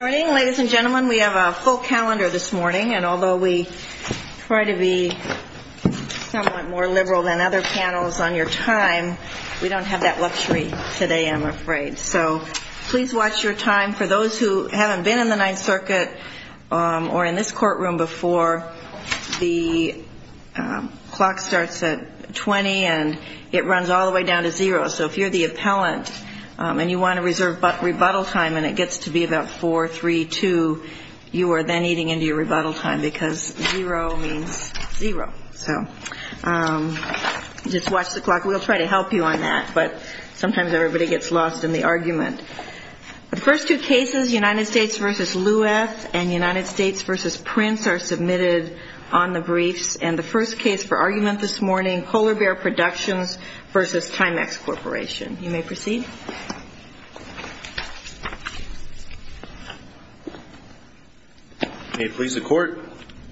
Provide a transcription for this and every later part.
Good morning, ladies and gentlemen. We have a full calendar this morning, and although we try to be somewhat more liberal than other panels on your time, we don't have that luxury today, I'm afraid. So please watch your time. For those who haven't been in the Ninth Circuit or in this courtroom before, the clock starts at 20 and it runs all the way down to zero. So if you're the appellant and you want to reserve rebuttal time and it gets to be about 4, 3, 2, you are then eating into your rebuttal time because zero means zero. So just watch the clock. We'll try to help you on that, but sometimes everybody gets lost in the argument. The first two cases, United States v. Lueth and United States v. Prince, are submitted on the briefs, and the first case for argument this morning, Polar Bear Productions v. Timex Corporation. You may proceed. May it please the Court,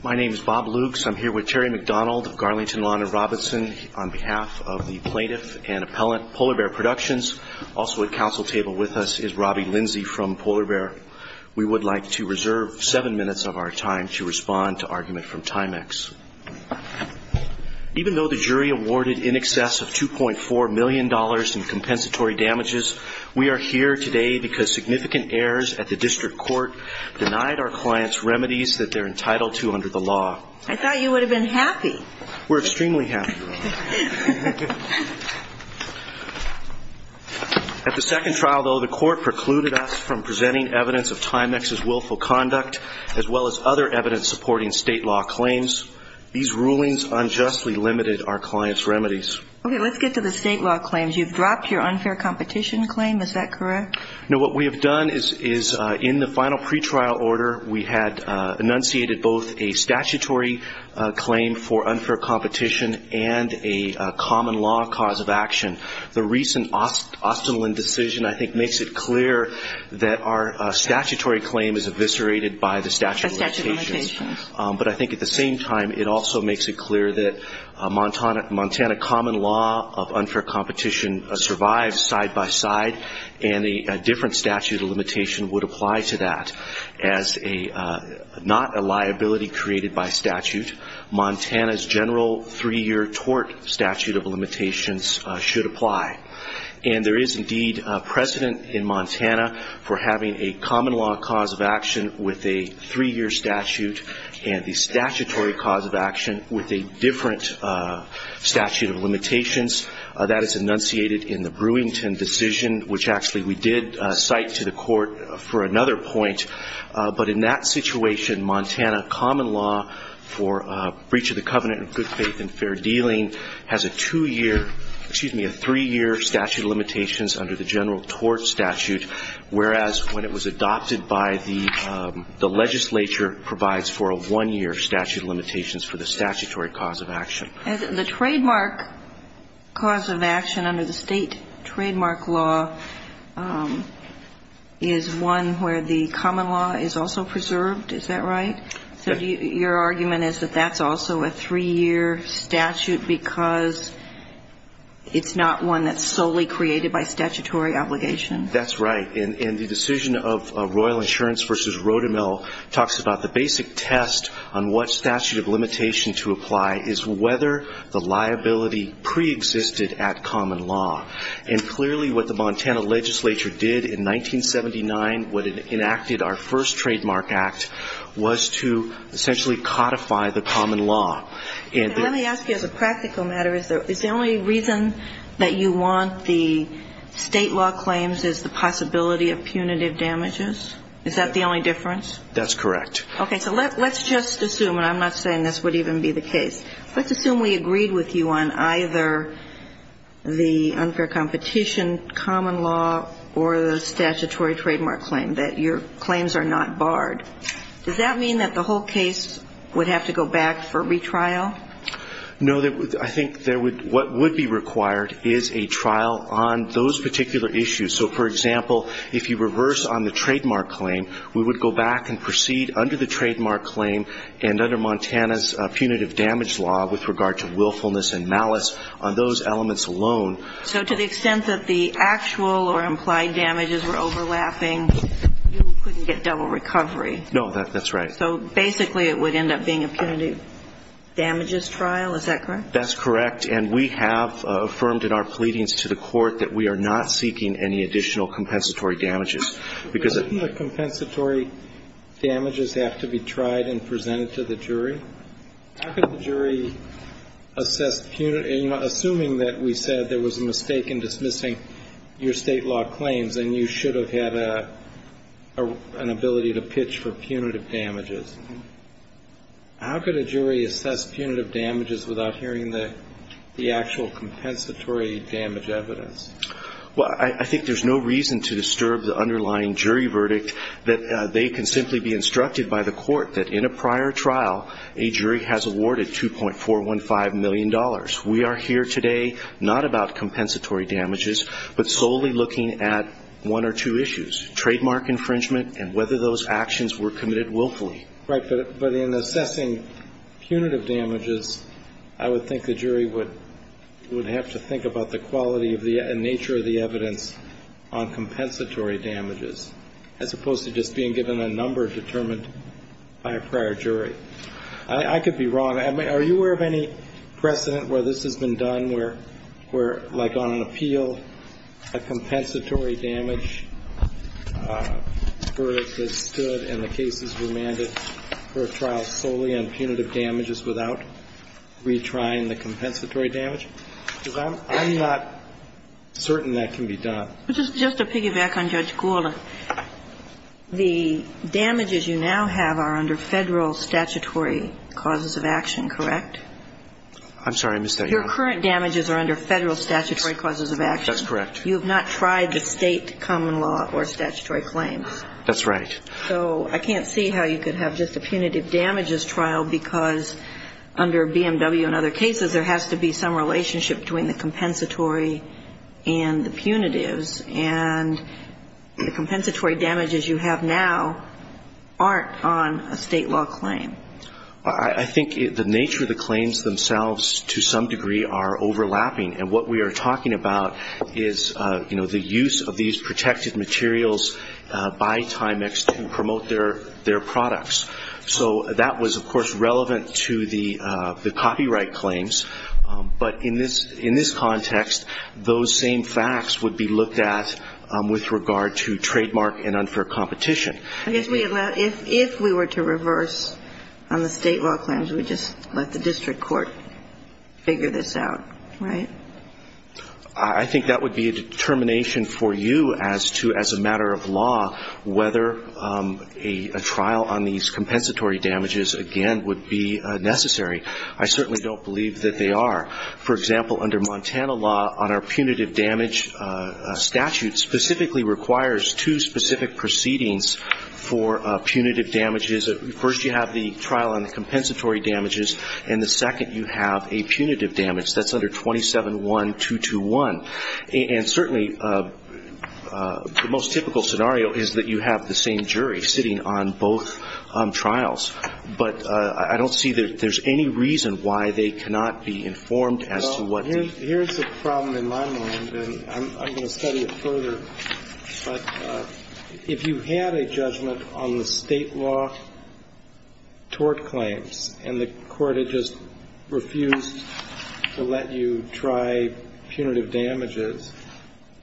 my name is Bob Lukes. I'm here with Terry McDonald of Garlington Lawn in Robinson on behalf of the plaintiff and appellant, Polar Bear Productions. Also at counsel table with us is Robbie Lindsey from Polar Bear. We would like to reserve seven minutes of our time to respond to argument from Timex. Even though the jury awarded in excess of $2.4 million in compensatory damages, we are here today because significant errors at the district court denied our clients remedies that they're entitled to under the law. I thought you would have been happy. We're extremely happy. At the second trial, though, the Court precluded us from presenting evidence of Timex's willful conduct, as well as other evidence supporting state law claims. These rulings unjustly limited our clients' remedies. Okay, let's get to the state law claims. You've dropped your unfair competition claim, is that correct? No, what we have done is in the final pretrial order, we had enunciated both a statutory claim for unfair competition and a statutory claim for unfair competition. And a common law cause of action. The recent Ostendlin decision, I think, makes it clear that our statutory claim is eviscerated by the statute of limitations. But I think at the same time, it also makes it clear that Montana common law of unfair competition survives side by side, and a different statute of limitation would apply to that as not a liability created by statute. Montana's general three-year tort statute of limitations should apply. And there is indeed precedent in Montana for having a common law cause of action with a three-year statute and the statutory cause of action with a different statute of limitations. That is enunciated in the Brewington decision, which actually we did cite to the Court for another point. But in that situation, Montana common law for breach of the covenant of good faith and fair dealing has a two-year – excuse me, a three-year statute of limitations under the general tort statute, whereas what it was adopted by the legislature provides for a one-year statute of limitations for the statutory cause of action. The trademark cause of action under the state trademark law is one where the common law is also preserved. Is that right? Yes. So your argument is that that's also a three-year statute because it's not one that's solely created by statutory obligation? That's right. And the decision of Royal Insurance v. Rotemel talks about the basic test on what statute of limitation to apply is whether the liability preexisted at common law. And clearly what the Montana legislature did in 1979, what it enacted, our first trademark act, was to essentially codify the common law. And let me ask you as a practical matter, is the only reason that you want the state law claims is the possibility of punitive damages? Is that the only difference? That's correct. Okay. So let's just assume, and I'm not saying this would even be the case, let's assume we agreed with you on either the unfair competition common law or the statutory trademark claim, that your claims are not barred. Does that mean that the whole case would have to go back for retrial? No. I think what would be required is a trial on those particular issues. So, for example, if you reverse on the trademark claim, we would go back and proceed under the trademark claim and under Montana's punitive damage law with regard to willfulness and malice on those elements alone. So to the extent that the actual or implied damages were overlapping, you couldn't get double recovery? No, that's right. So basically it would end up being a punitive damages trial. Is that correct? That's correct. And we have affirmed in our pleadings to the court that we are not seeking any additional compensatory damages. Doesn't the compensatory damages have to be tried and presented to the jury? How could the jury assess, assuming that we said there was a mistake in dismissing your state law claims and you should have had an ability to pitch for punitive damages, how could a jury assess punitive damages without hearing the actual compensatory damage evidence? Well, I think there's no reason to disturb the underlying jury verdict that they can simply be instructed by the court that in a prior trial a jury has awarded $2.415 million. We are here today not about compensatory damages but solely looking at one or two issues, trademark infringement and whether those actions were committed willfully. Right, but in assessing punitive damages, I would think the jury would have to think about the quality and nature of the evidence on compensatory damages, as opposed to just being given a number determined by a prior jury. I could be wrong. Are you aware of any precedent where this has been done, where, like on an appeal, a compensatory damage verdict is stood and the case is remanded for a trial solely on punitive damages without retrying the compensatory damage? Because I'm not certain that can be done. Just to piggyback on Judge Goulden, the damages you now have are under federal statutory causes of action, correct? I'm sorry, I missed that. Your current damages are under federal statutory causes of action? That's correct. You have not tried the state common law or statutory claims? That's right. So I can't see how you could have just a punitive damages trial because under BMW and other cases, there has to be some relationship between the compensatory and the punitives. And the compensatory damages you have now aren't on a state law claim. I think the nature of the claims themselves, to some degree, are overlapping. And what we are talking about is, you know, the use of these protected materials by Timex to promote their products. So that was, of course, relevant to the copyright claims. But in this context, those same facts would be looked at with regard to trademark and unfair competition. I guess if we were to reverse on the state law claims, we'd just let the district court figure this out, right? I think that would be a determination for you as to, as a matter of law, whether a trial on these compensatory damages, again, would be necessary. I certainly don't believe that they are. For example, under Montana law, on our punitive damage statute, specifically requires two specific proceedings for punitive damages. First, you have the trial on the compensatory damages, and the second, you have a punitive damage. That's under 27-1-221. And certainly, the most typical scenario is that you have the same jury sitting on both trials. But I don't see that there's any reason why they cannot be informed as to what they do. Well, here's the problem in my mind, and I'm going to study it further. But if you had a judgment on the state law tort claims, and the court had just refused to let you try punitive damages,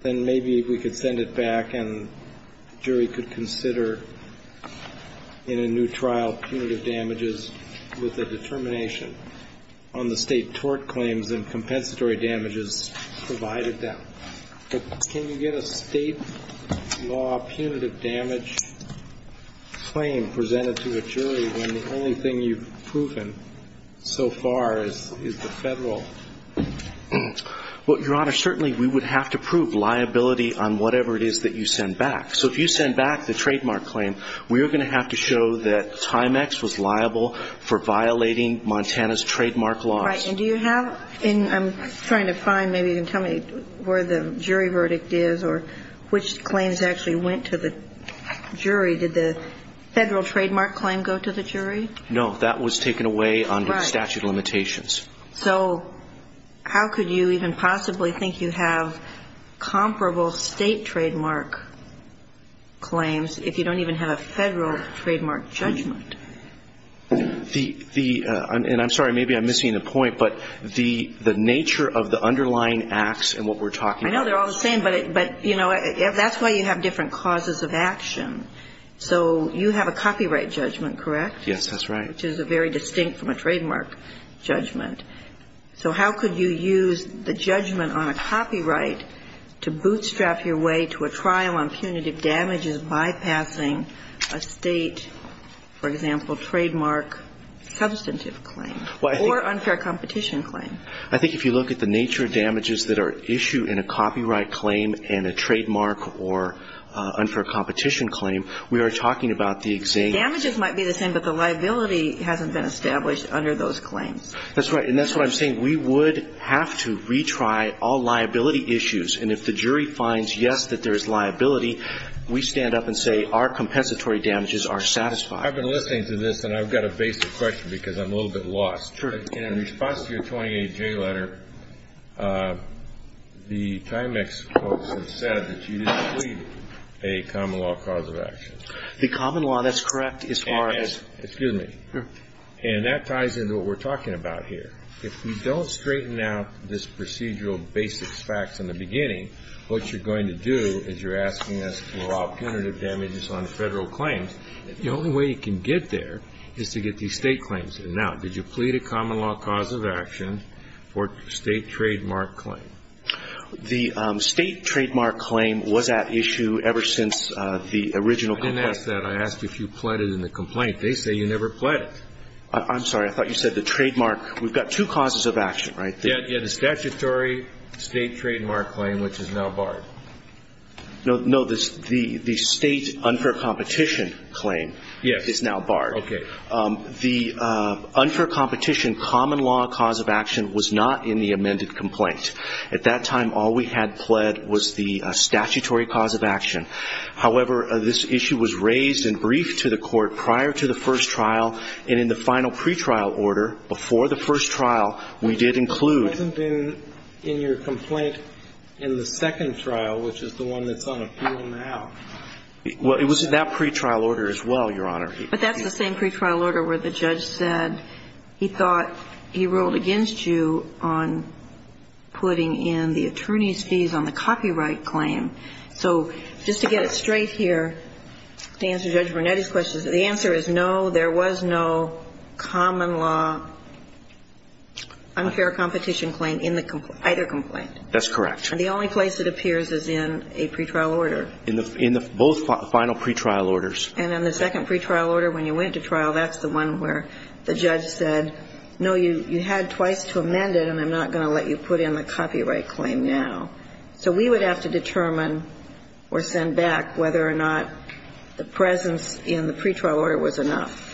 then maybe we could send it back and the jury could consider, in a new trial, punitive damages with a determination on the state tort claims and compensatory damages provided them. But can you get a state law punitive damage claim presented to a jury when the only thing you've proven so far is the Federal? Well, Your Honor, certainly we would have to prove liability on whatever it is that you send back. So if you send back the trademark claim, we are going to have to show that Timex was liable for violating Montana's trademark laws. And I'm trying to find, maybe you can tell me where the jury verdict is or which claims actually went to the jury. Did the Federal trademark claim go to the jury? No. That was taken away under statute of limitations. Right. So how could you even possibly think you have comparable state trademark claims if you don't even have a Federal trademark judgment? The – and I'm sorry, maybe I'm missing the point, but the nature of the underlying acts and what we're talking about. I know they're all the same, but, you know, that's why you have different causes of action. So you have a copyright judgment, correct? Yes, that's right. Which is very distinct from a trademark judgment. So how could you use the judgment on a copyright to bootstrap your way to a trial on punitive damages bypassing a state, for example, trademark substantive claim or unfair competition claim? I think if you look at the nature of damages that are issued in a copyright claim and a trademark or unfair competition claim, we are talking about the exact – Damages might be the same, but the liability hasn't been established under those claims. That's right. And that's what I'm saying. We would have to retry all liability issues. And if the jury finds, yes, that there is liability, we stand up and say our compensatory damages are satisfied. I've been listening to this, and I've got a basic question because I'm a little bit lost. Sure. In response to your 28J letter, the Timex folks have said that you didn't plead a common law cause of action. The common law, that's correct, as far as – Excuse me. And that ties into what we're talking about here. If we don't straighten out this procedural basic facts in the beginning, what you're going to do is you're asking us to allow punitive damages on Federal claims. The only way you can get there is to get these State claims in and out. Did you plead a common law cause of action or State trademark claim? The State trademark claim was at issue ever since the original complaint. I didn't ask that. I asked if you pled it in the complaint. They say you never pled it. I'm sorry. I thought you said the trademark. We've got two causes of action, right? Yeah, the statutory State trademark claim, which is now barred. No, the State unfair competition claim is now barred. Okay. The unfair competition common law cause of action was not in the amended complaint. At that time, all we had pled was the statutory cause of action. However, this issue was raised and briefed to the Court prior to the first trial and in the final pretrial order before the first trial, we did include. It hasn't been in your complaint in the second trial, which is the one that's on appeal now. Well, it was in that pretrial order as well, Your Honor. But that's the same pretrial order where the judge said he thought he ruled against you on putting in the attorney's fees on the copyright claim. So just to get it straight here, to answer Judge Brunetti's question, the answer is no, there was no common law unfair competition claim in either complaint. That's correct. And the only place it appears is in a pretrial order. In the both final pretrial orders. And in the second pretrial order, when you went to trial, that's the one where the judge said, no, you had twice to amend it, and I'm not going to let you put in the copyright claim now. So we would have to determine or send back whether or not the presence in the pretrial order was enough.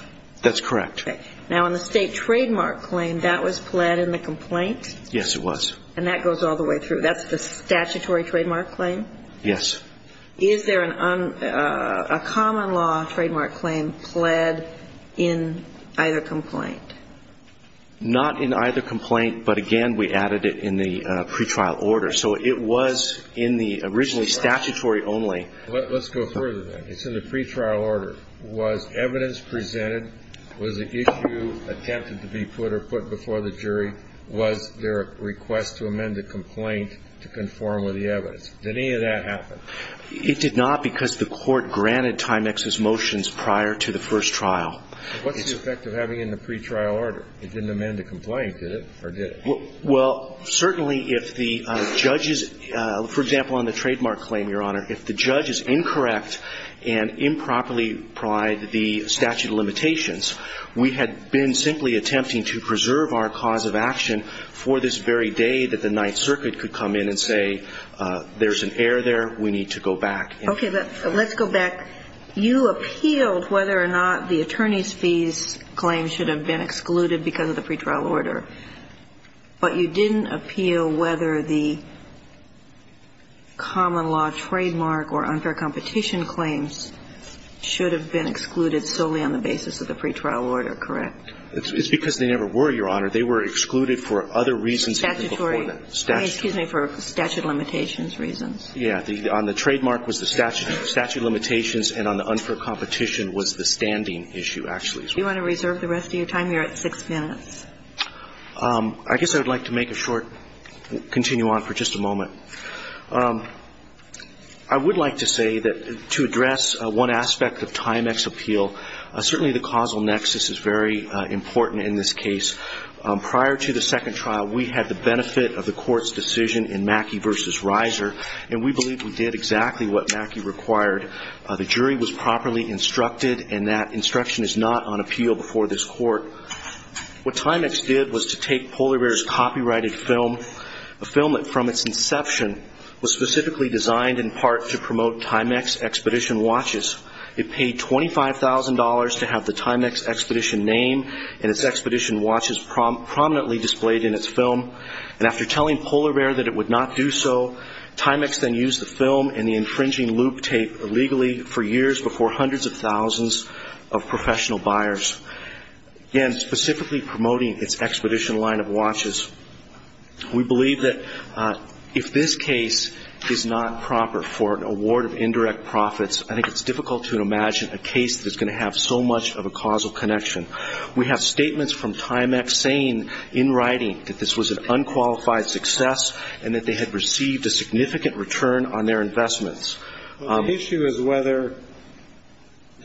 That's correct. Okay. Now, on the state trademark claim, that was pled in the complaint? Yes, it was. And that goes all the way through. That's the statutory trademark claim? Yes. Is there a common law trademark claim pled in either complaint? Not in either complaint, but, again, we added it in the pretrial order. So it was in the originally statutory only. Let's go further then. It's in the pretrial order. Was evidence presented? Was the issue attempted to be put or put before the jury? Was there a request to amend the complaint to conform with the evidence? Did any of that happen? It did not because the Court granted Timex's motions prior to the first trial. What's the effect of having it in the pretrial order? It didn't amend the complaint, did it? Or did it? Well, certainly if the judges, for example, on the trademark claim, Your Honor, if the judge is incorrect and improperly applied the statute of limitations, we had been simply attempting to preserve our cause of action for this very day that the Ninth Circuit could come in and say there's an error there, we need to go back. Okay. Let's go back. You appealed whether or not the attorney's fees claim should have been excluded because of the pretrial order, but you didn't appeal whether the common law trademark or unfair competition claims should have been excluded solely on the basis of the pretrial order, correct? It's because they never were, Your Honor. They were excluded for other reasons. Statutory. Excuse me, for statute of limitations reasons. Yeah. On the trademark was the statute of limitations, and on the unfair competition was the standing issue, actually. Do you want to reserve the rest of your time? You're at six minutes. I guess I would like to make a short, continue on for just a moment. I would like to say that to address one aspect of Timex appeal, certainly the causal nexus is very important in this case. Prior to the second trial, we had the benefit of the Court's decision in Mackey v. Reiser, and we believe we did exactly what Mackey required. The jury was properly instructed, and that instruction is not on appeal before this court. What Timex did was to take Polar Bear's copyrighted film, a film that from its inception was specifically designed in part to promote Timex Expedition watches. It paid $25,000 to have the Timex Expedition name and its Expedition watches prominently displayed in its film. And after telling Polar Bear that it would not do so, Timex then used the film and the infringing loop tape illegally for years before hundreds of thousands of professional buyers, again, specifically promoting its Expedition line of watches. We believe that if this case is not proper for an award of indirect profits, I think it's difficult to imagine a case that is going to have so much of a causal connection. We have statements from Timex saying in writing that this was an unqualified success and that they had received a significant return on their investments. The issue is whether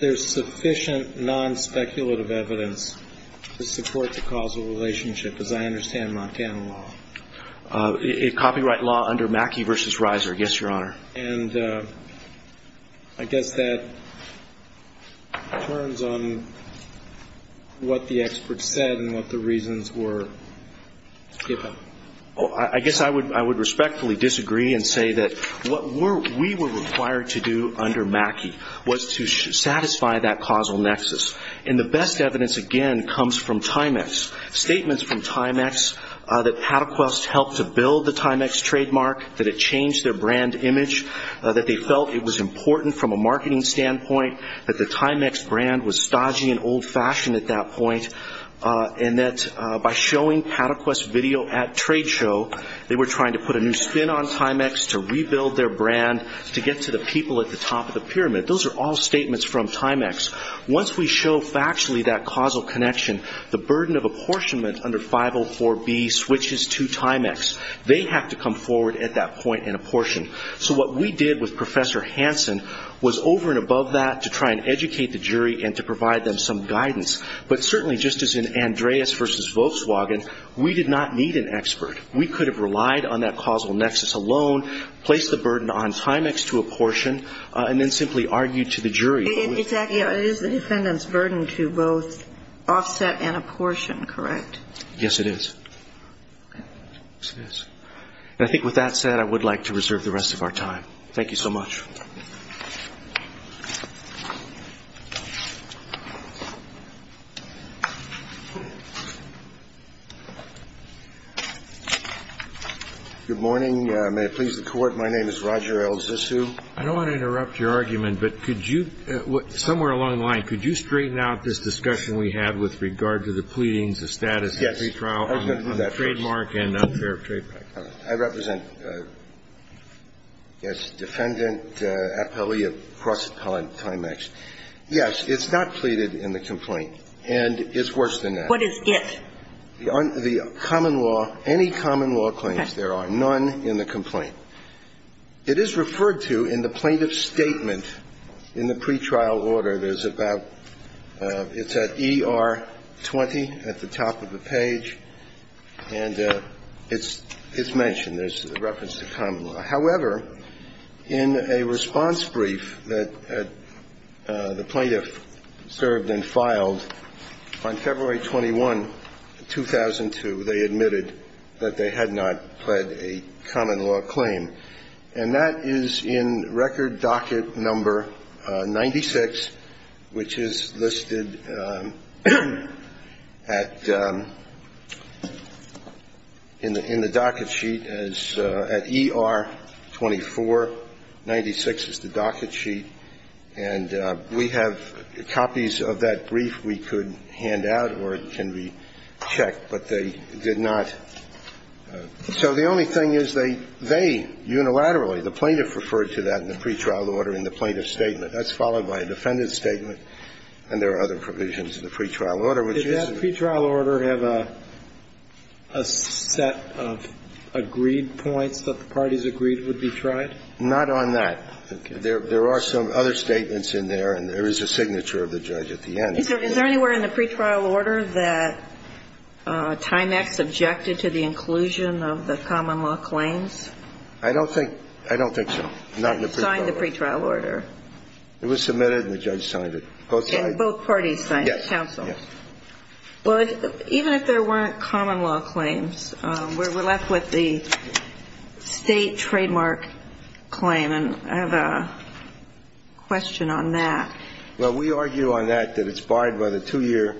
there's sufficient non-speculative evidence to support the causal relationship, as I understand Montana law. Copyright law under Mackey v. Reiser, yes, Your Honor. And I guess that turns on what the experts said and what the reasons were. I guess I would respectfully disagree and say that what we were required to do under Mackey was to satisfy that causal nexus. And the best evidence, again, comes from Timex. Statements from Timex that Patek West helped to build the Timex trademark, that it changed their brand image, that they felt it was important from a marketing standpoint, that the Timex brand was stodgy and old-fashioned at that point, and that by showing Patek West's video at Trade Show, they were trying to put a new spin on Timex to rebuild their brand, to get to the people at the top of the pyramid. Those are all statements from Timex. Once we show factually that causal connection, the burden of apportionment under 504B switches to Timex. They have to come forward at that point and apportion. So what we did with Professor Hansen was over and above that to try and educate the jury and to provide them some guidance. But certainly just as in Andreas v. Volkswagen, we did not need an expert. We could have relied on that causal nexus alone, placed the burden on Timex to apportion, and then simply argued to the jury. Exactly. It is the defendant's burden to both offset and apportion, correct? Yes, it is. And I think with that said, I would like to reserve the rest of our time. Thank you so much. Good morning. May it please the Court, my name is Roger L. Zissou. I don't want to interrupt your argument, but could you, somewhere along the line, could you straighten out this discussion we had with regard to the pleadings, the status of the pretrial on the trademark and unfair trade pact? I represent, yes, defendant Appellee of Cross Appellant Timex. Yes, it's not pleaded in the complaint, and it's worse than that. What is it? The common law, any common law claims, there are none in the complaint. It is referred to in the plaintiff's statement in the pretrial order. It is about, it's at ER 20 at the top of the page, and it's mentioned. There's a reference to common law. However, in a response brief that the plaintiff served and filed, on February 21, 2002, they admitted that they had not pled a common law claim. And that is in record docket number 96, which is listed at, in the docket sheet, at ER 24, 96 is the docket sheet, and we have copies of that brief we could hand out or it can be checked, but they did not. So the only thing is they, they unilaterally, the plaintiff referred to that in the pretrial order in the plaintiff's statement. That's followed by a defendant's statement, and there are other provisions of the pretrial order, which is. Did that pretrial order have a set of agreed points that the parties agreed would be tried? Not on that. Okay. There are some other statements in there, and there is a signature of the judge at the end. Is there anywhere in the pretrial order that Timex objected to the inclusion of the common law claims? I don't think, I don't think so. Not in the pretrial order. Signed the pretrial order. It was submitted and the judge signed it. Both sides. And both parties signed it. Yes. Counsel. Yes. Well, even if there weren't common law claims, we're left with the state trademark claim, and I have a question on that. Well, we argue on that that it's barred by the two-year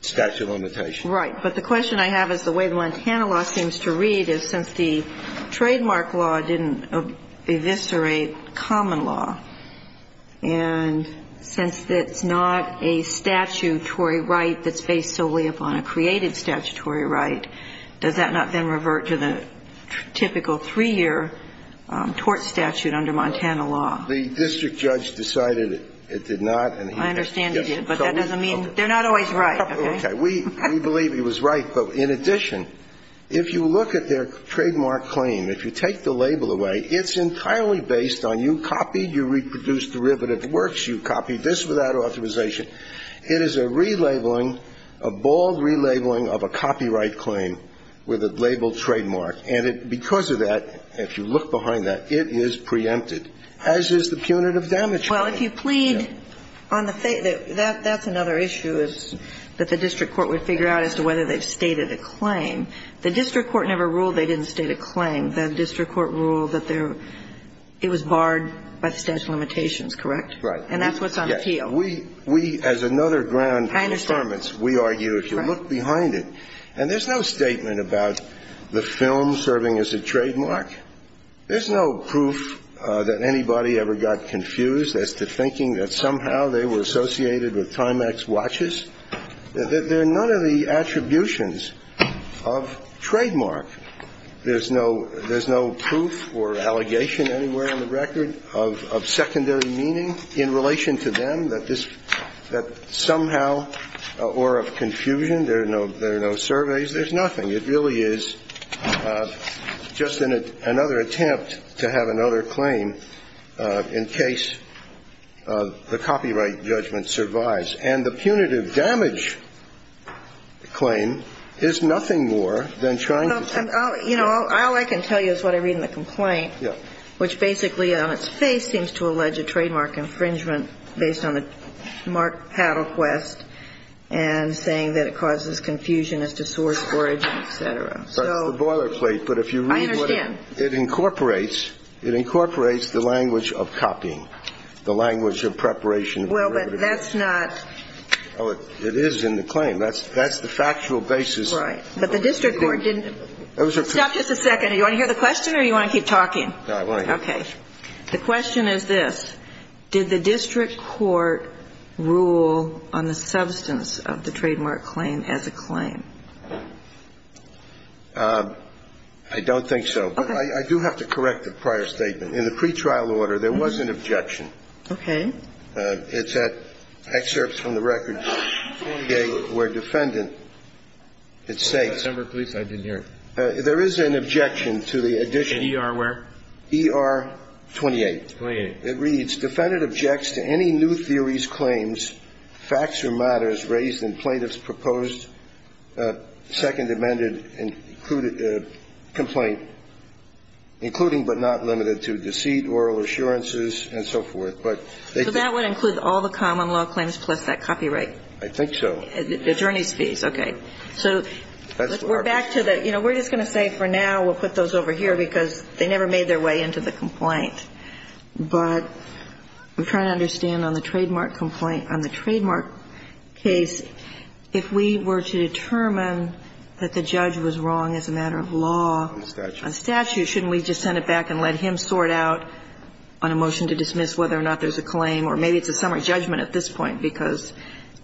statute of limitations. Right. But the question I have is the way the Montana law seems to read is since the trademark law didn't eviscerate common law, and since it's not a statutory right that's based solely upon a created statutory right, does that not then revert to the typical three-year tort statute under Montana law? The district judge decided it did not. I understand you, but that doesn't mean they're not always right. Okay. We believe he was right. But in addition, if you look at their trademark claim, if you take the label away, it's entirely based on you copied, you reproduced derivative works, you copied this without authorization. It is a relabeling, a bald relabeling of a copyright claim with a labeled trademark. And because of that, if you look behind that, it is preempted. As is the punitive damage claim. Well, if you plead on the fact that that's another issue that the district court would figure out as to whether they've stated a claim. The district court never ruled they didn't state a claim. The district court ruled that it was barred by the statute of limitations, correct? Right. And that's what's on appeal. Yes. We, as another ground of confirmance, we argue if you look behind it, and there's no statement about the film serving as a trademark. There's no proof that anybody ever got confused as to thinking that somehow they were associated with Timex watches. They're none of the attributions of trademark. There's no proof or allegation anywhere on the record of secondary meaning in relation to them that somehow or of confusion. There are no surveys. There's nothing. It really is just another attempt to have another claim in case the copyright judgment survives. And the punitive damage claim is nothing more than trying to. You know, all I can tell you is what I read in the complaint, which basically on its face seems to allege a trademark infringement based on the Mark Paddle request and saying that it causes confusion as to source, origin, et cetera. So. That's the boilerplate. But if you read what it. I understand. It incorporates the language of copying, the language of preparation. Well, but that's not. Oh, it is in the claim. That's the factual basis. Right. But the district court didn't. Stop just a second. Do you want to hear the question or do you want to keep talking? No, I want to hear it. Okay. The question is this. Did the district court rule on the substance of the trademark claim as a claim? I don't think so. I do have to correct the prior statement. In the pretrial order, there was an objection. Okay. It's at excerpts from the record. Okay. Where defendant. I didn't hear it. There is an objection to the addition. Where? E.R. 28. 28. It reads, defendant objects to any new theories, claims, facts or matters raised in plaintiff's proposed second amended complaint, including but not limited to deceit, oral assurances and so forth. But. So that would include all the common law claims plus that copyright. I think so. The attorney's fees. Okay. So. We're back to the. We're just going to say for now we'll put those over here because they never made their way into the complaint. But I'm trying to understand on the trademark complaint, on the trademark case, if we were to determine that the judge was wrong as a matter of law. Statute. Statute. Shouldn't we just send it back and let him sort out on a motion to dismiss whether or not there's a claim, or maybe it's a summary judgment at this point because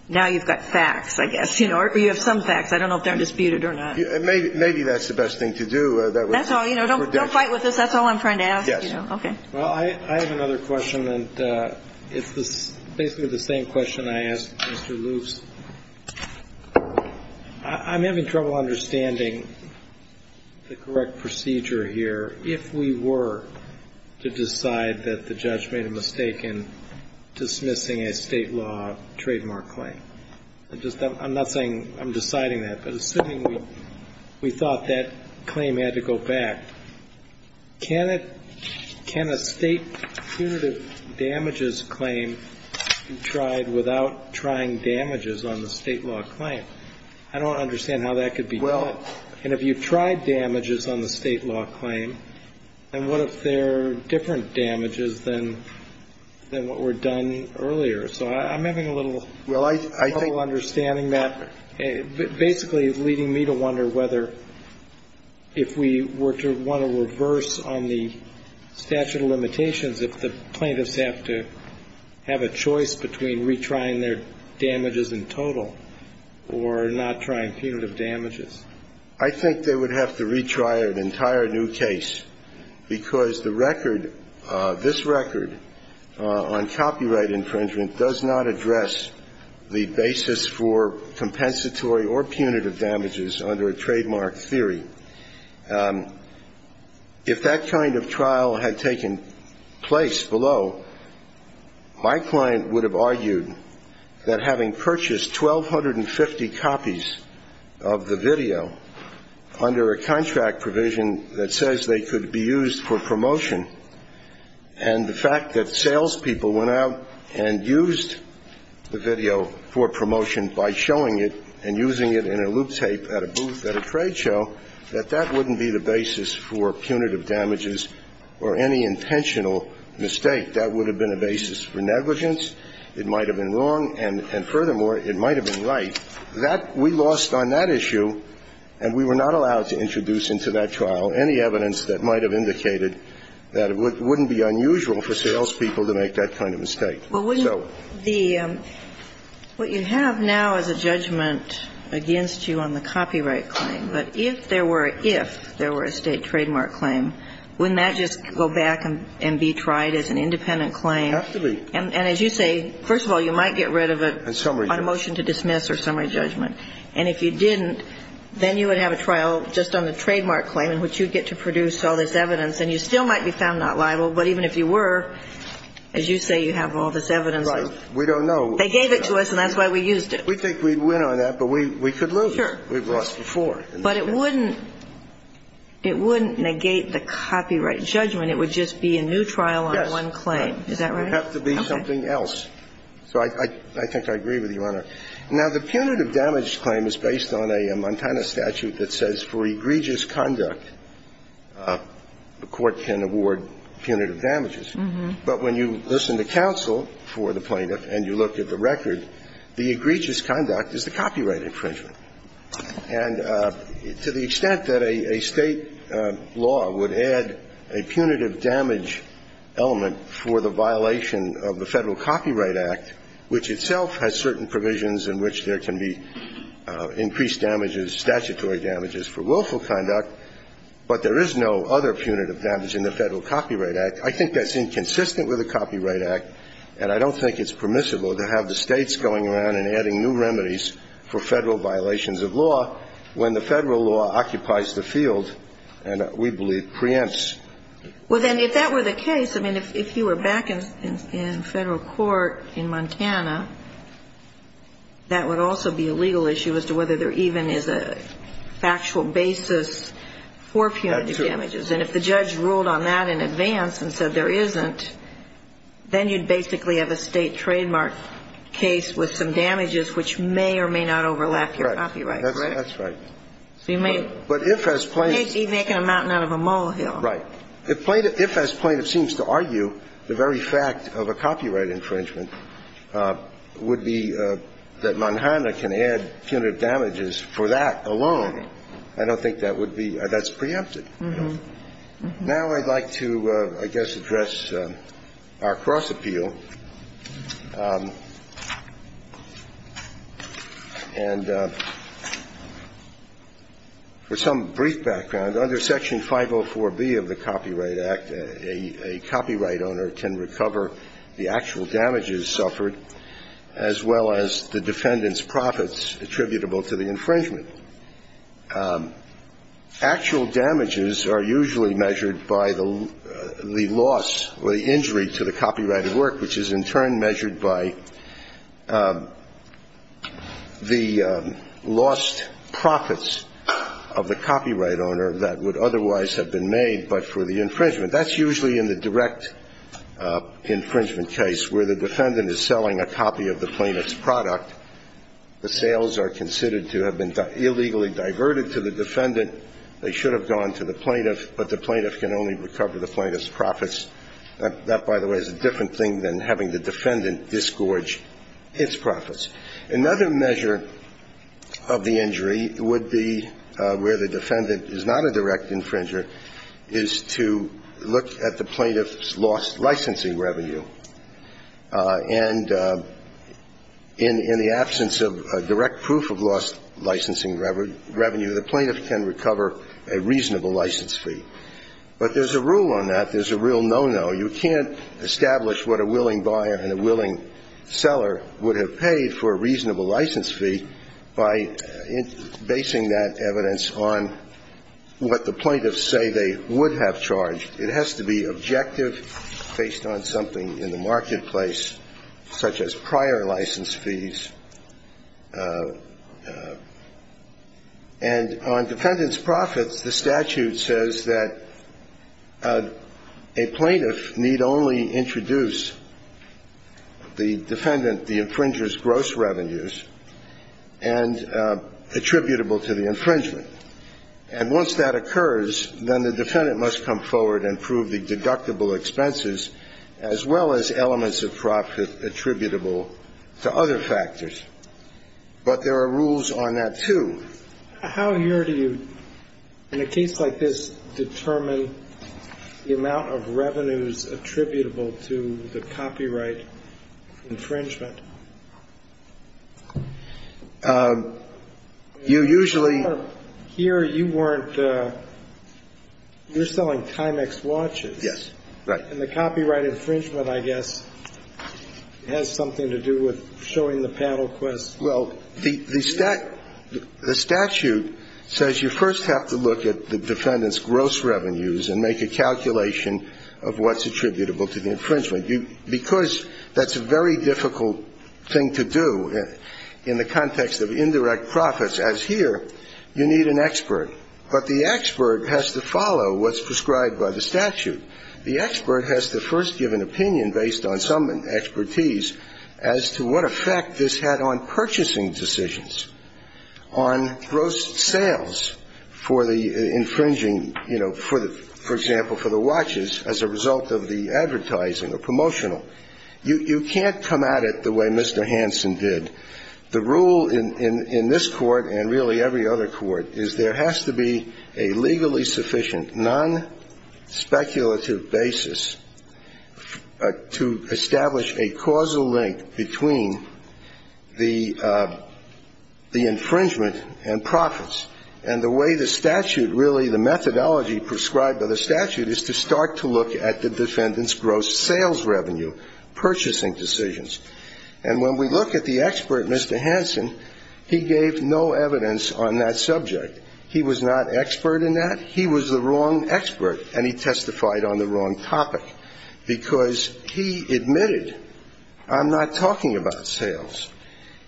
now you've got facts, I guess. Or you have some facts. I don't know if they're disputed or not. Maybe that's the best thing to do. That's all. Don't fight with us. That's all I'm trying to ask. Okay. Well, I have another question. And it's basically the same question I asked Mr. Loops. I'm having trouble understanding the correct procedure here if we were to decide that the judge made a mistake in dismissing a State law trademark claim. I'm not saying I'm deciding that, but assuming we thought that claim had to go back, can a State punitive damages claim be tried without trying damages on the State law claim? I don't understand how that could be done. And if you tried damages on the State law claim, then what if they're different damages than what were done earlier? So I'm having a little trouble understanding that, basically leading me to wonder whether if we were to want to reverse on the statute of limitations, if the plaintiffs have to have a choice between retrying their damages in total or not trying punitive damages. I think they would have to retry an entire new case because the record, this record on copyright infringement does not address the basis for compensatory or punitive damages under a trademark theory. If that kind of trial had taken place below, my client would have argued that having purchased 1,250 copies of the video under a contract provision that says they could be used for promotion, and the fact that salespeople went out and used the video for promotion by showing it and using it in a loop tape at a booth at a trade show, that that wouldn't be the basis for punitive damages or any intentional mistake. That would have been a basis for negligence. It might have been wrong. And furthermore, it might have been right. That we lost on that issue, and we were not allowed to introduce into that trial any evidence that might have indicated that it wouldn't be unusual for salespeople to make that kind of mistake. Ginsburg. Well, wouldn't the – what you have now is a judgment against you on the copyright claim. But if there were a – if there were a State trademark claim, wouldn't that just go back and be tried as an independent claim? Absolutely. And as you say, first of all, you might get rid of it on motion to dismiss or summary judgment. And if you didn't, then you would have a trial just on the trademark claim in which you'd get to produce all this evidence. And you still might be found not liable, but even if you were, as you say, you have all this evidence. Right. We don't know. They gave it to us, and that's why we used it. We think we'd win on that, but we could lose. Sure. We've lost before. But it wouldn't – it wouldn't negate the copyright judgment. It would just be a new trial on one claim. Is that right? It would have to be something else. So I think I agree with you, Your Honor. Now, the punitive damage claim is based on a Montana statute that says for egregious conduct, the court can award punitive damages. But when you listen to counsel for the plaintiff and you look at the record, the egregious conduct is the copyright infringement. And to the extent that a State law would add a punitive damage element for the violation of the Federal Copyright Act, which itself has certain provisions in which there can be increased damages, statutory damages for willful conduct, but there is no other punitive damage in the Federal Copyright Act, I think that's inconsistent with the Copyright Act, and I don't think it's permissible to have the States going around and adding new remedies for Federal violations of law when the Federal law I think it's a mistake to say that if there is a punitive damage in Federal court in Montana, that would also be a legal issue as to whether there even is a factual basis for punitive damages. And if the judge ruled on that in advance and said there isn't, then you'd basically have a State trademark case with some damages which may or may not overlap your copyright infringement, would be that Montana can add punitive damages for that alone, I don't think that would be, that's preempted. Now I'd like to, I guess, address our cross-appeal. And for some brief background, under Section 504B of the Copyright Act, a copyright owner can recover the actual damages suffered as well as the defendant's profits attributable to the infringement. Actual damages are usually measured by the loss or the injury to the copyrighted work, which is in turn measured by the lost profits of the copyright owner that would be a direct infringement case. Where the defendant is selling a copy of the plaintiff's product, the sales are considered to have been illegally diverted to the defendant, they should have gone to the plaintiff, but the plaintiff can only recover the plaintiff's profits. That, by the way, is a different thing than having the defendant disgorge its profits. Another measure of the injury would be where the defendant is not a direct infringer, is to look at the plaintiff's lost licensing revenue. And in the absence of direct proof of lost licensing revenue, the plaintiff can recover a reasonable license fee. But there's a rule on that, there's a real no-no, you can't establish what a willing buyer and a willing seller would have paid for a reasonable license fee by basing that evidence on what the plaintiffs say they would have charged. It has to be objective, based on something in the marketplace, such as prior license fees. And on defendant's profits, the statute says that a plaintiff need only introduce the defendant the infringer's gross revenues and attributable to the infringement. And once that occurs, then the defendant must come forward and prove the deductible expenses, as well as elements of profit attributable to other factors. But there are rules on that, too. How here do you, in a case like this, determine the amount of revenues attributable to the copyright infringement? You usually Here you weren't, you're selling Timex watches. Yes, right. And the copyright infringement, I guess, has something to do with showing the paddle quest. Well, the statute says you first have to look at the defendant's gross revenues and make a calculation of what's attributable to the infringement. Because that's a very difficult thing to do in the context of indirect profits, as here, you need an expert. But the expert has to follow what's prescribed by the statute. The expert has to first give an opinion based on some expertise as to what effect this had on purchasing decisions, on gross sales for the infringing, you know, for example, for the watches as a result of the advertising or promotional. You can't come at it the way Mr. Hansen did. The rule in this Court, and really every other court, is there has to be a legally sufficient, non-speculative basis to establish a causal link between the infringement and profits. And the way the statute really, the methodology prescribed by the statute, is to start to look at the defendant's gross sales revenue, purchasing decisions. And when we look at the expert, Mr. Hansen, he gave no evidence on that subject. He was not expert in that. He was the wrong expert, and he testified on the wrong topic. Because he admitted, I'm not talking about sales.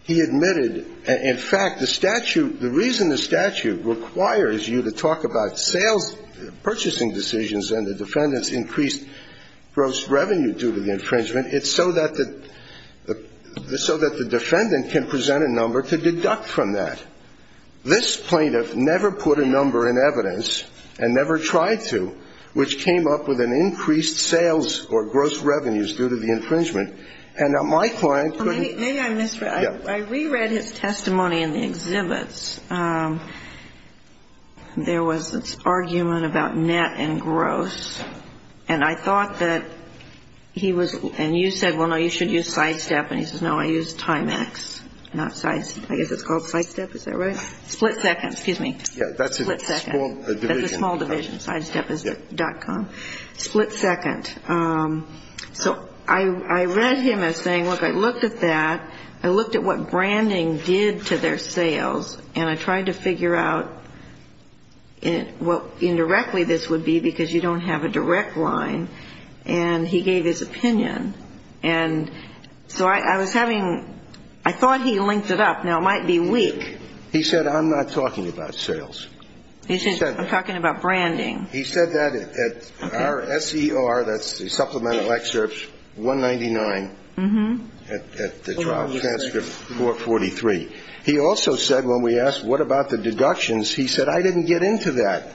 He admitted, in fact, the statute, the reason the statute requires you to talk about sales, purchasing decisions and the defendant's increased gross revenue due to the infringement, it's so that the defendant can present a number to deduct from that. This plaintiff never put a number in evidence and never tried to, which came up with an increased sales or gross revenues due to the infringement. And my client couldn't. Maybe I misread. I reread his testimony in the exhibits. There was this argument about net and gross. And I thought that he was, and you said, well, no, you should use Sidestep. And he says, no, I use Timex, not Sidestep. I guess it's called Sidestep. Is that right? Split second. Excuse me. Split second. That's a small division. That's a small division. Sidestep.com. Split second. So I read him as saying, look, I looked at that. I looked at what branding did to their sales, and I tried to figure out what indirectly this would be because you don't have a direct line. And he gave his opinion. And so I was having, I thought he linked it up. Now, it might be weak. He said, I'm not talking about sales. He said, I'm talking about branding. He said that at our SER, that's the supplemental excerpts, 199, at the trial transcript 443. He also said when we asked what about the deductions, he said, I didn't get into that.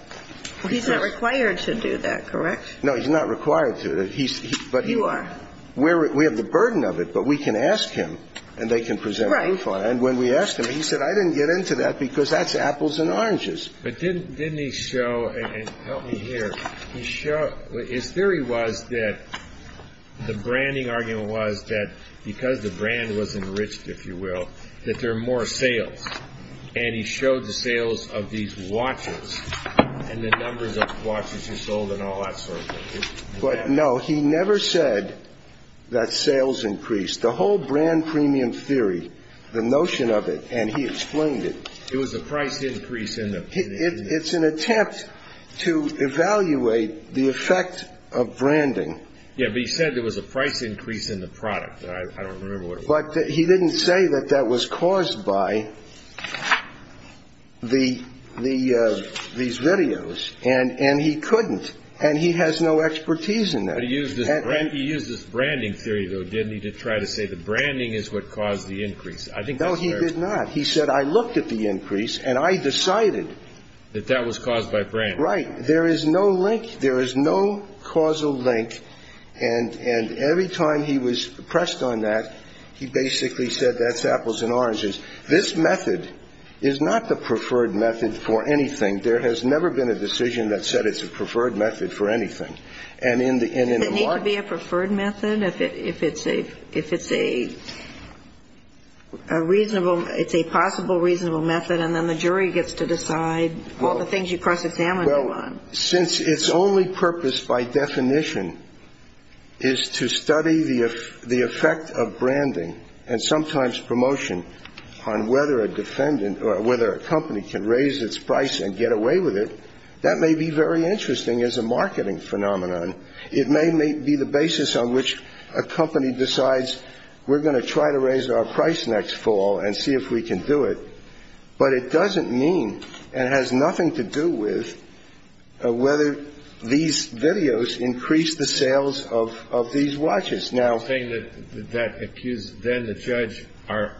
He's not required to do that, correct? No, he's not required to. You are. We have the burden of it, but we can ask him, and they can present it. Right. And when we asked him, he said, I didn't get into that because that's apples and oranges. But didn't he show, and help me here, his theory was that the branding argument was that because the brand was enriched, if you will, that there are more sales. And he showed the sales of these watches and the numbers of watches he sold and all that sort of thing. But no, he never said that sales increased. The whole brand premium theory, the notion of it, and he explained it. It was a price increase. It's an attempt to evaluate the effect of branding. Yeah, but he said there was a price increase in the product. I don't remember what it was. But he didn't say that that was caused by these videos. And he couldn't. And he has no expertise in that. He used this branding theory, though, didn't he, to try to say that branding is what caused the increase. I think that's fair. No, he did not. He said I looked at the increase and I decided. That that was caused by branding. Right. There is no link. There is no causal link. And every time he was pressed on that, he basically said that's apples and oranges. This method is not the preferred method for anything. There has never been a decision that said it's a preferred method for anything. It needs to be a preferred method if it's a reasonable, it's a possible reasonable method, and then the jury gets to decide all the things you cross-examine them on. Well, since its only purpose by definition is to study the effect of branding and sometimes promotion on whether a defendant or whether a company can raise its price and get away with it, that may be very interesting as a marketing phenomenon. It may be the basis on which a company decides we're going to try to raise our price next fall and see if we can do it, but it doesn't mean and has nothing to do with whether these videos increase the sales of these watches. Now. You're saying that that accused then the judge, our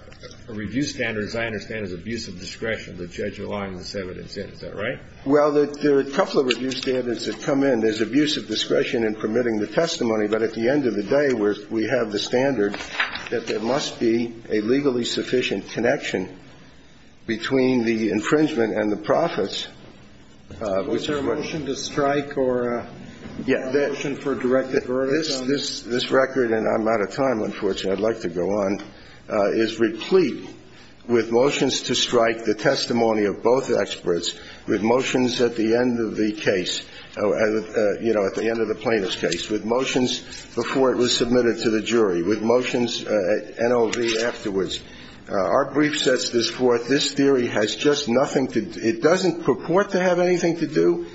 review standards, I understand, is abuse of discretion. The judge aligned this evidence in. Is that right? Well, there are a couple of review standards that come in. There's abuse of discretion in permitting the testimony, but at the end of the day, we have the standard that there must be a legally sufficient connection between the infringement and the profits. Was there a motion to strike or a motion for direct avertisement? This record, and I'm out of time, unfortunately. I'd like to go on, is replete with motions to strike the testimony of both experts, with motions at the end of the case, you know, at the end of the plaintiff's case, with motions before it was submitted to the jury, with motions at NOV afterwards. Our brief sets this forth. This theory has just nothing to do. It doesn't purport to have anything to do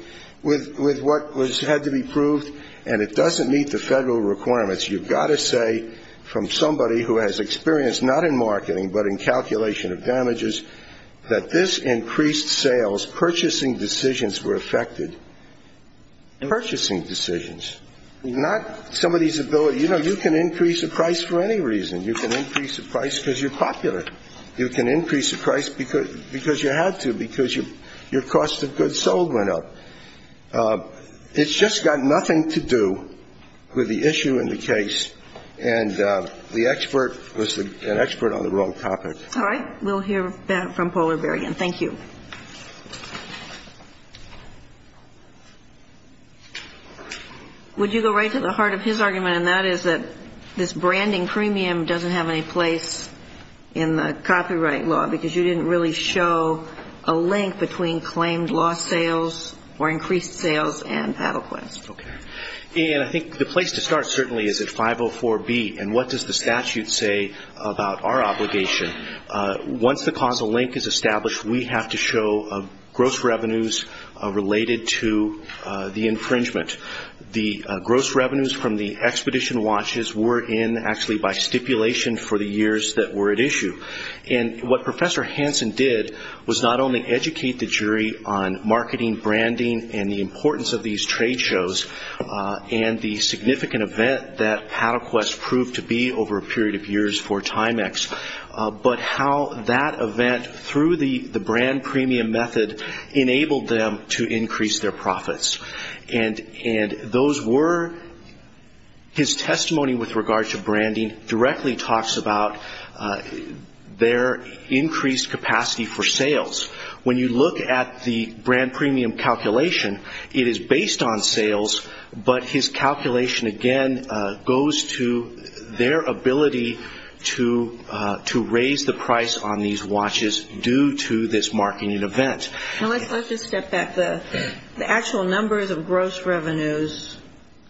with what had to be proved, and it doesn't meet the federal requirements. You've got to say from somebody who has experience not in marketing, but in calculation of damages, that this increased sales, purchasing decisions were affected. Purchasing decisions, not somebody's ability. You know, you can increase the price for any reason. You can increase the price because you're popular. You can increase the price because you had to, because your cost of goods sold went up. It's just got nothing to do with the issue in the case. And the expert was an expert on the wrong topic. All right. We'll hear back from Paul or Barry again. Thank you. Would you go right to the heart of his argument, and that is that this branding premium doesn't have any place in the copyright law because you didn't really show a link between claimed lost sales or increased sales and PaddleQuest. Okay. And I think the place to start certainly is at 504B, and what does the statute say about our obligation? Once the causal link is established, we have to show gross revenues related to the infringement. The gross revenues from the Expedition watches were in actually by stipulation for the years that were at issue. And what Professor Hansen did was not only educate the jury on marketing, branding, and the importance of these trade shows and the significant event that PaddleQuest proved to be over a period of years for Timex, but how that event, through the brand premium method, enabled them to increase their profits. And those were his testimony with regard to branding directly talks about their increased capacity for sales. When you look at the brand premium calculation, it is based on sales, but his calculation again goes to their ability to raise the price on these watches due to this marketing event. Now, let's just step back. The actual numbers of gross revenues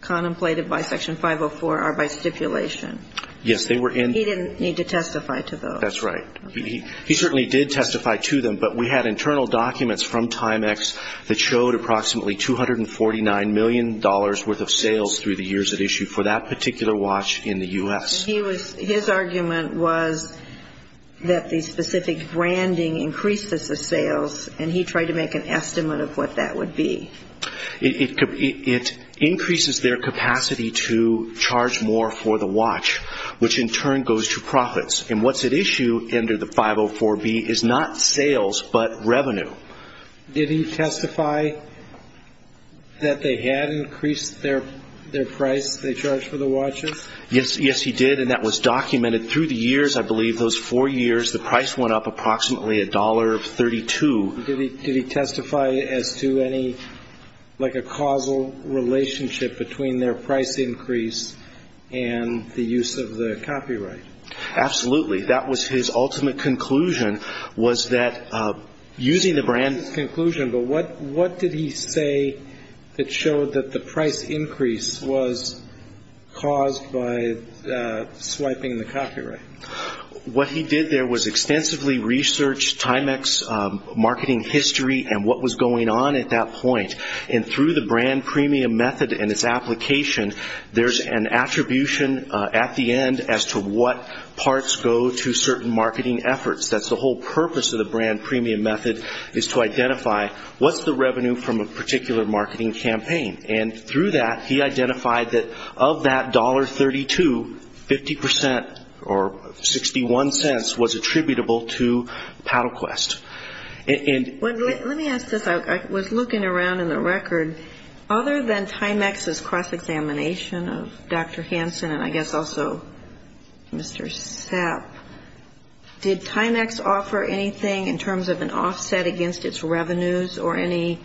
contemplated by Section 504 are by stipulation. Yes, they were in. He didn't need to testify to those. That's right. He certainly did testify to them, but we had internal documents from Timex that showed approximately $249 million worth of sales through the years at issue for that particular watch in the U.S. His argument was that the specific branding increased the sales, and he tried to make an estimate of what that would be. It increases their capacity to charge more for the watch, which in turn goes to profits. And what's at issue under the 504B is not sales but revenue. Did he testify that they had increased their price they charged for the watches? Yes, he did, and that was documented. Through the years, I believe, those four years, the price went up approximately $1.32. Did he testify as to any causal relationship between their price increase and the use of the copyright? Absolutely. That was his ultimate conclusion was that using the brand. That was his conclusion, but what did he say that showed that the price increase was caused by swiping the copyright? What he did there was extensively research Timex marketing history and what was going on at that point. And through the brand premium method and its application, there's an attribution at the end as to what parts go to certain marketing efforts. That's the whole purpose of the brand premium method is to identify what's the revenue from a particular marketing campaign. And through that, he identified that of that $1.32, 50% or 61 cents was attributable to PaddleQuest. Let me ask this. I was looking around in the record. Other than Timex's cross-examination of Dr. Hansen and I guess also Mr. Sepp, did Timex offer anything in terms of an offset against its revenues or any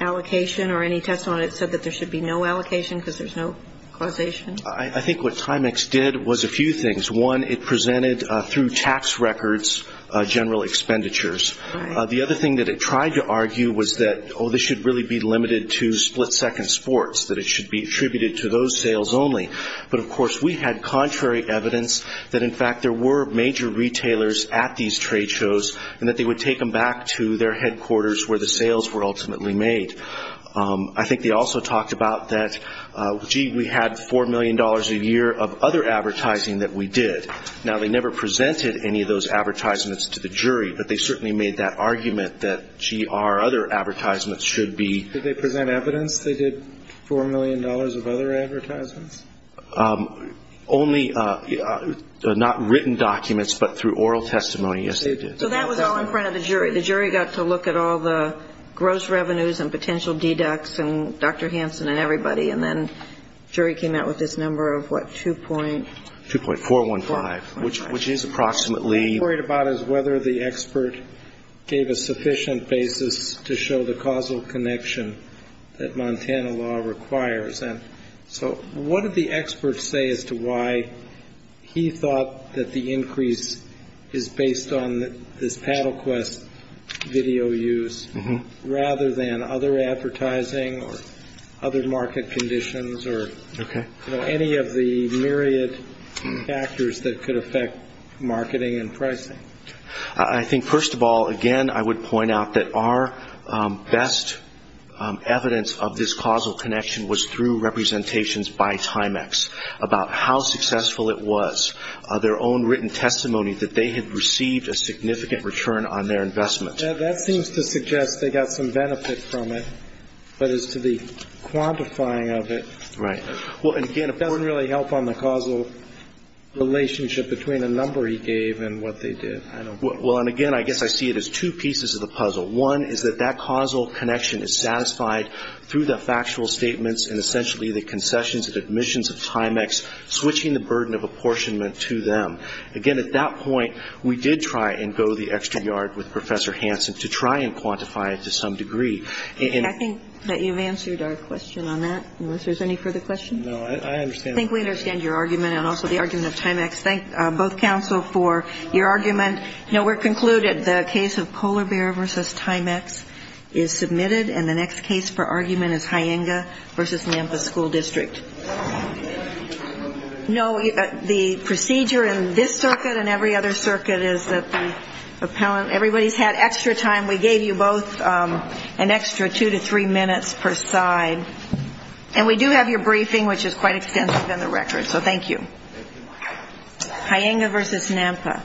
allocation or any testimony that said that there should be no allocation because there's no causation? I think what Timex did was a few things. One, it presented through tax records general expenditures. The other thing that it tried to argue was that, oh, this should really be limited to split-second sports, that it should be attributed to those sales only. But, of course, we had contrary evidence that, in fact, there were major retailers at these trade shows and that they would take them back to their headquarters where the sales were ultimately made. I think they also talked about that, gee, we had $4 million a year of other advertising that we did. Now, they never presented any of those advertisements to the jury, but they certainly made that argument that, gee, our other advertisements should be. Did they present evidence they did $4 million of other advertisements? Only not written documents, but through oral testimony, yes, they did. So that was all in front of the jury. The jury got to look at all the gross revenues and potential deducts and Dr. Hansen and everybody, and then the jury came out with this number of, what, 2.415, which is approximately... What I'm worried about is whether the expert gave a sufficient basis to show the causal connection that Montana law requires. So what did the expert say as to why he thought that the increase is based on this PaddleQuest video use, rather than other advertising or other market conditions or any of the myriad factors that could affect marketing and pricing? I think, first of all, again, I would point out that our best evidence of this causal connection was through representations by Timex about how successful it was, their own written testimony that they had received a significant return on their investment. That seems to suggest they got some benefit from it, but as to the quantifying of it... Right. Well, and again, if that doesn't really help on the causal relationship between the number he gave and what they did, I don't... Well, and again, I guess I see it as two pieces of the puzzle. One is that that causal connection is satisfied through the factual statements and essentially the concessions and admissions of Timex, switching the burden of apportionment to them. Again, at that point, we did try and go the extra yard with Professor Hansen to try and quantify it to some degree. I think that you've answered our question on that, unless there's any further questions. No, I understand. I think we understand your argument and also the argument of Timex. Thank both counsel for your argument. No, we're concluded. The case of Polar Bear v. Timex is submitted, and the next case for argument is Hyenga v. Memphis School District. No, the procedure in this circuit and every other circuit is that the appellant... minutes per side. And we do have your briefing, which is quite extensive in the record, so thank you. Hyenga v. Memphis.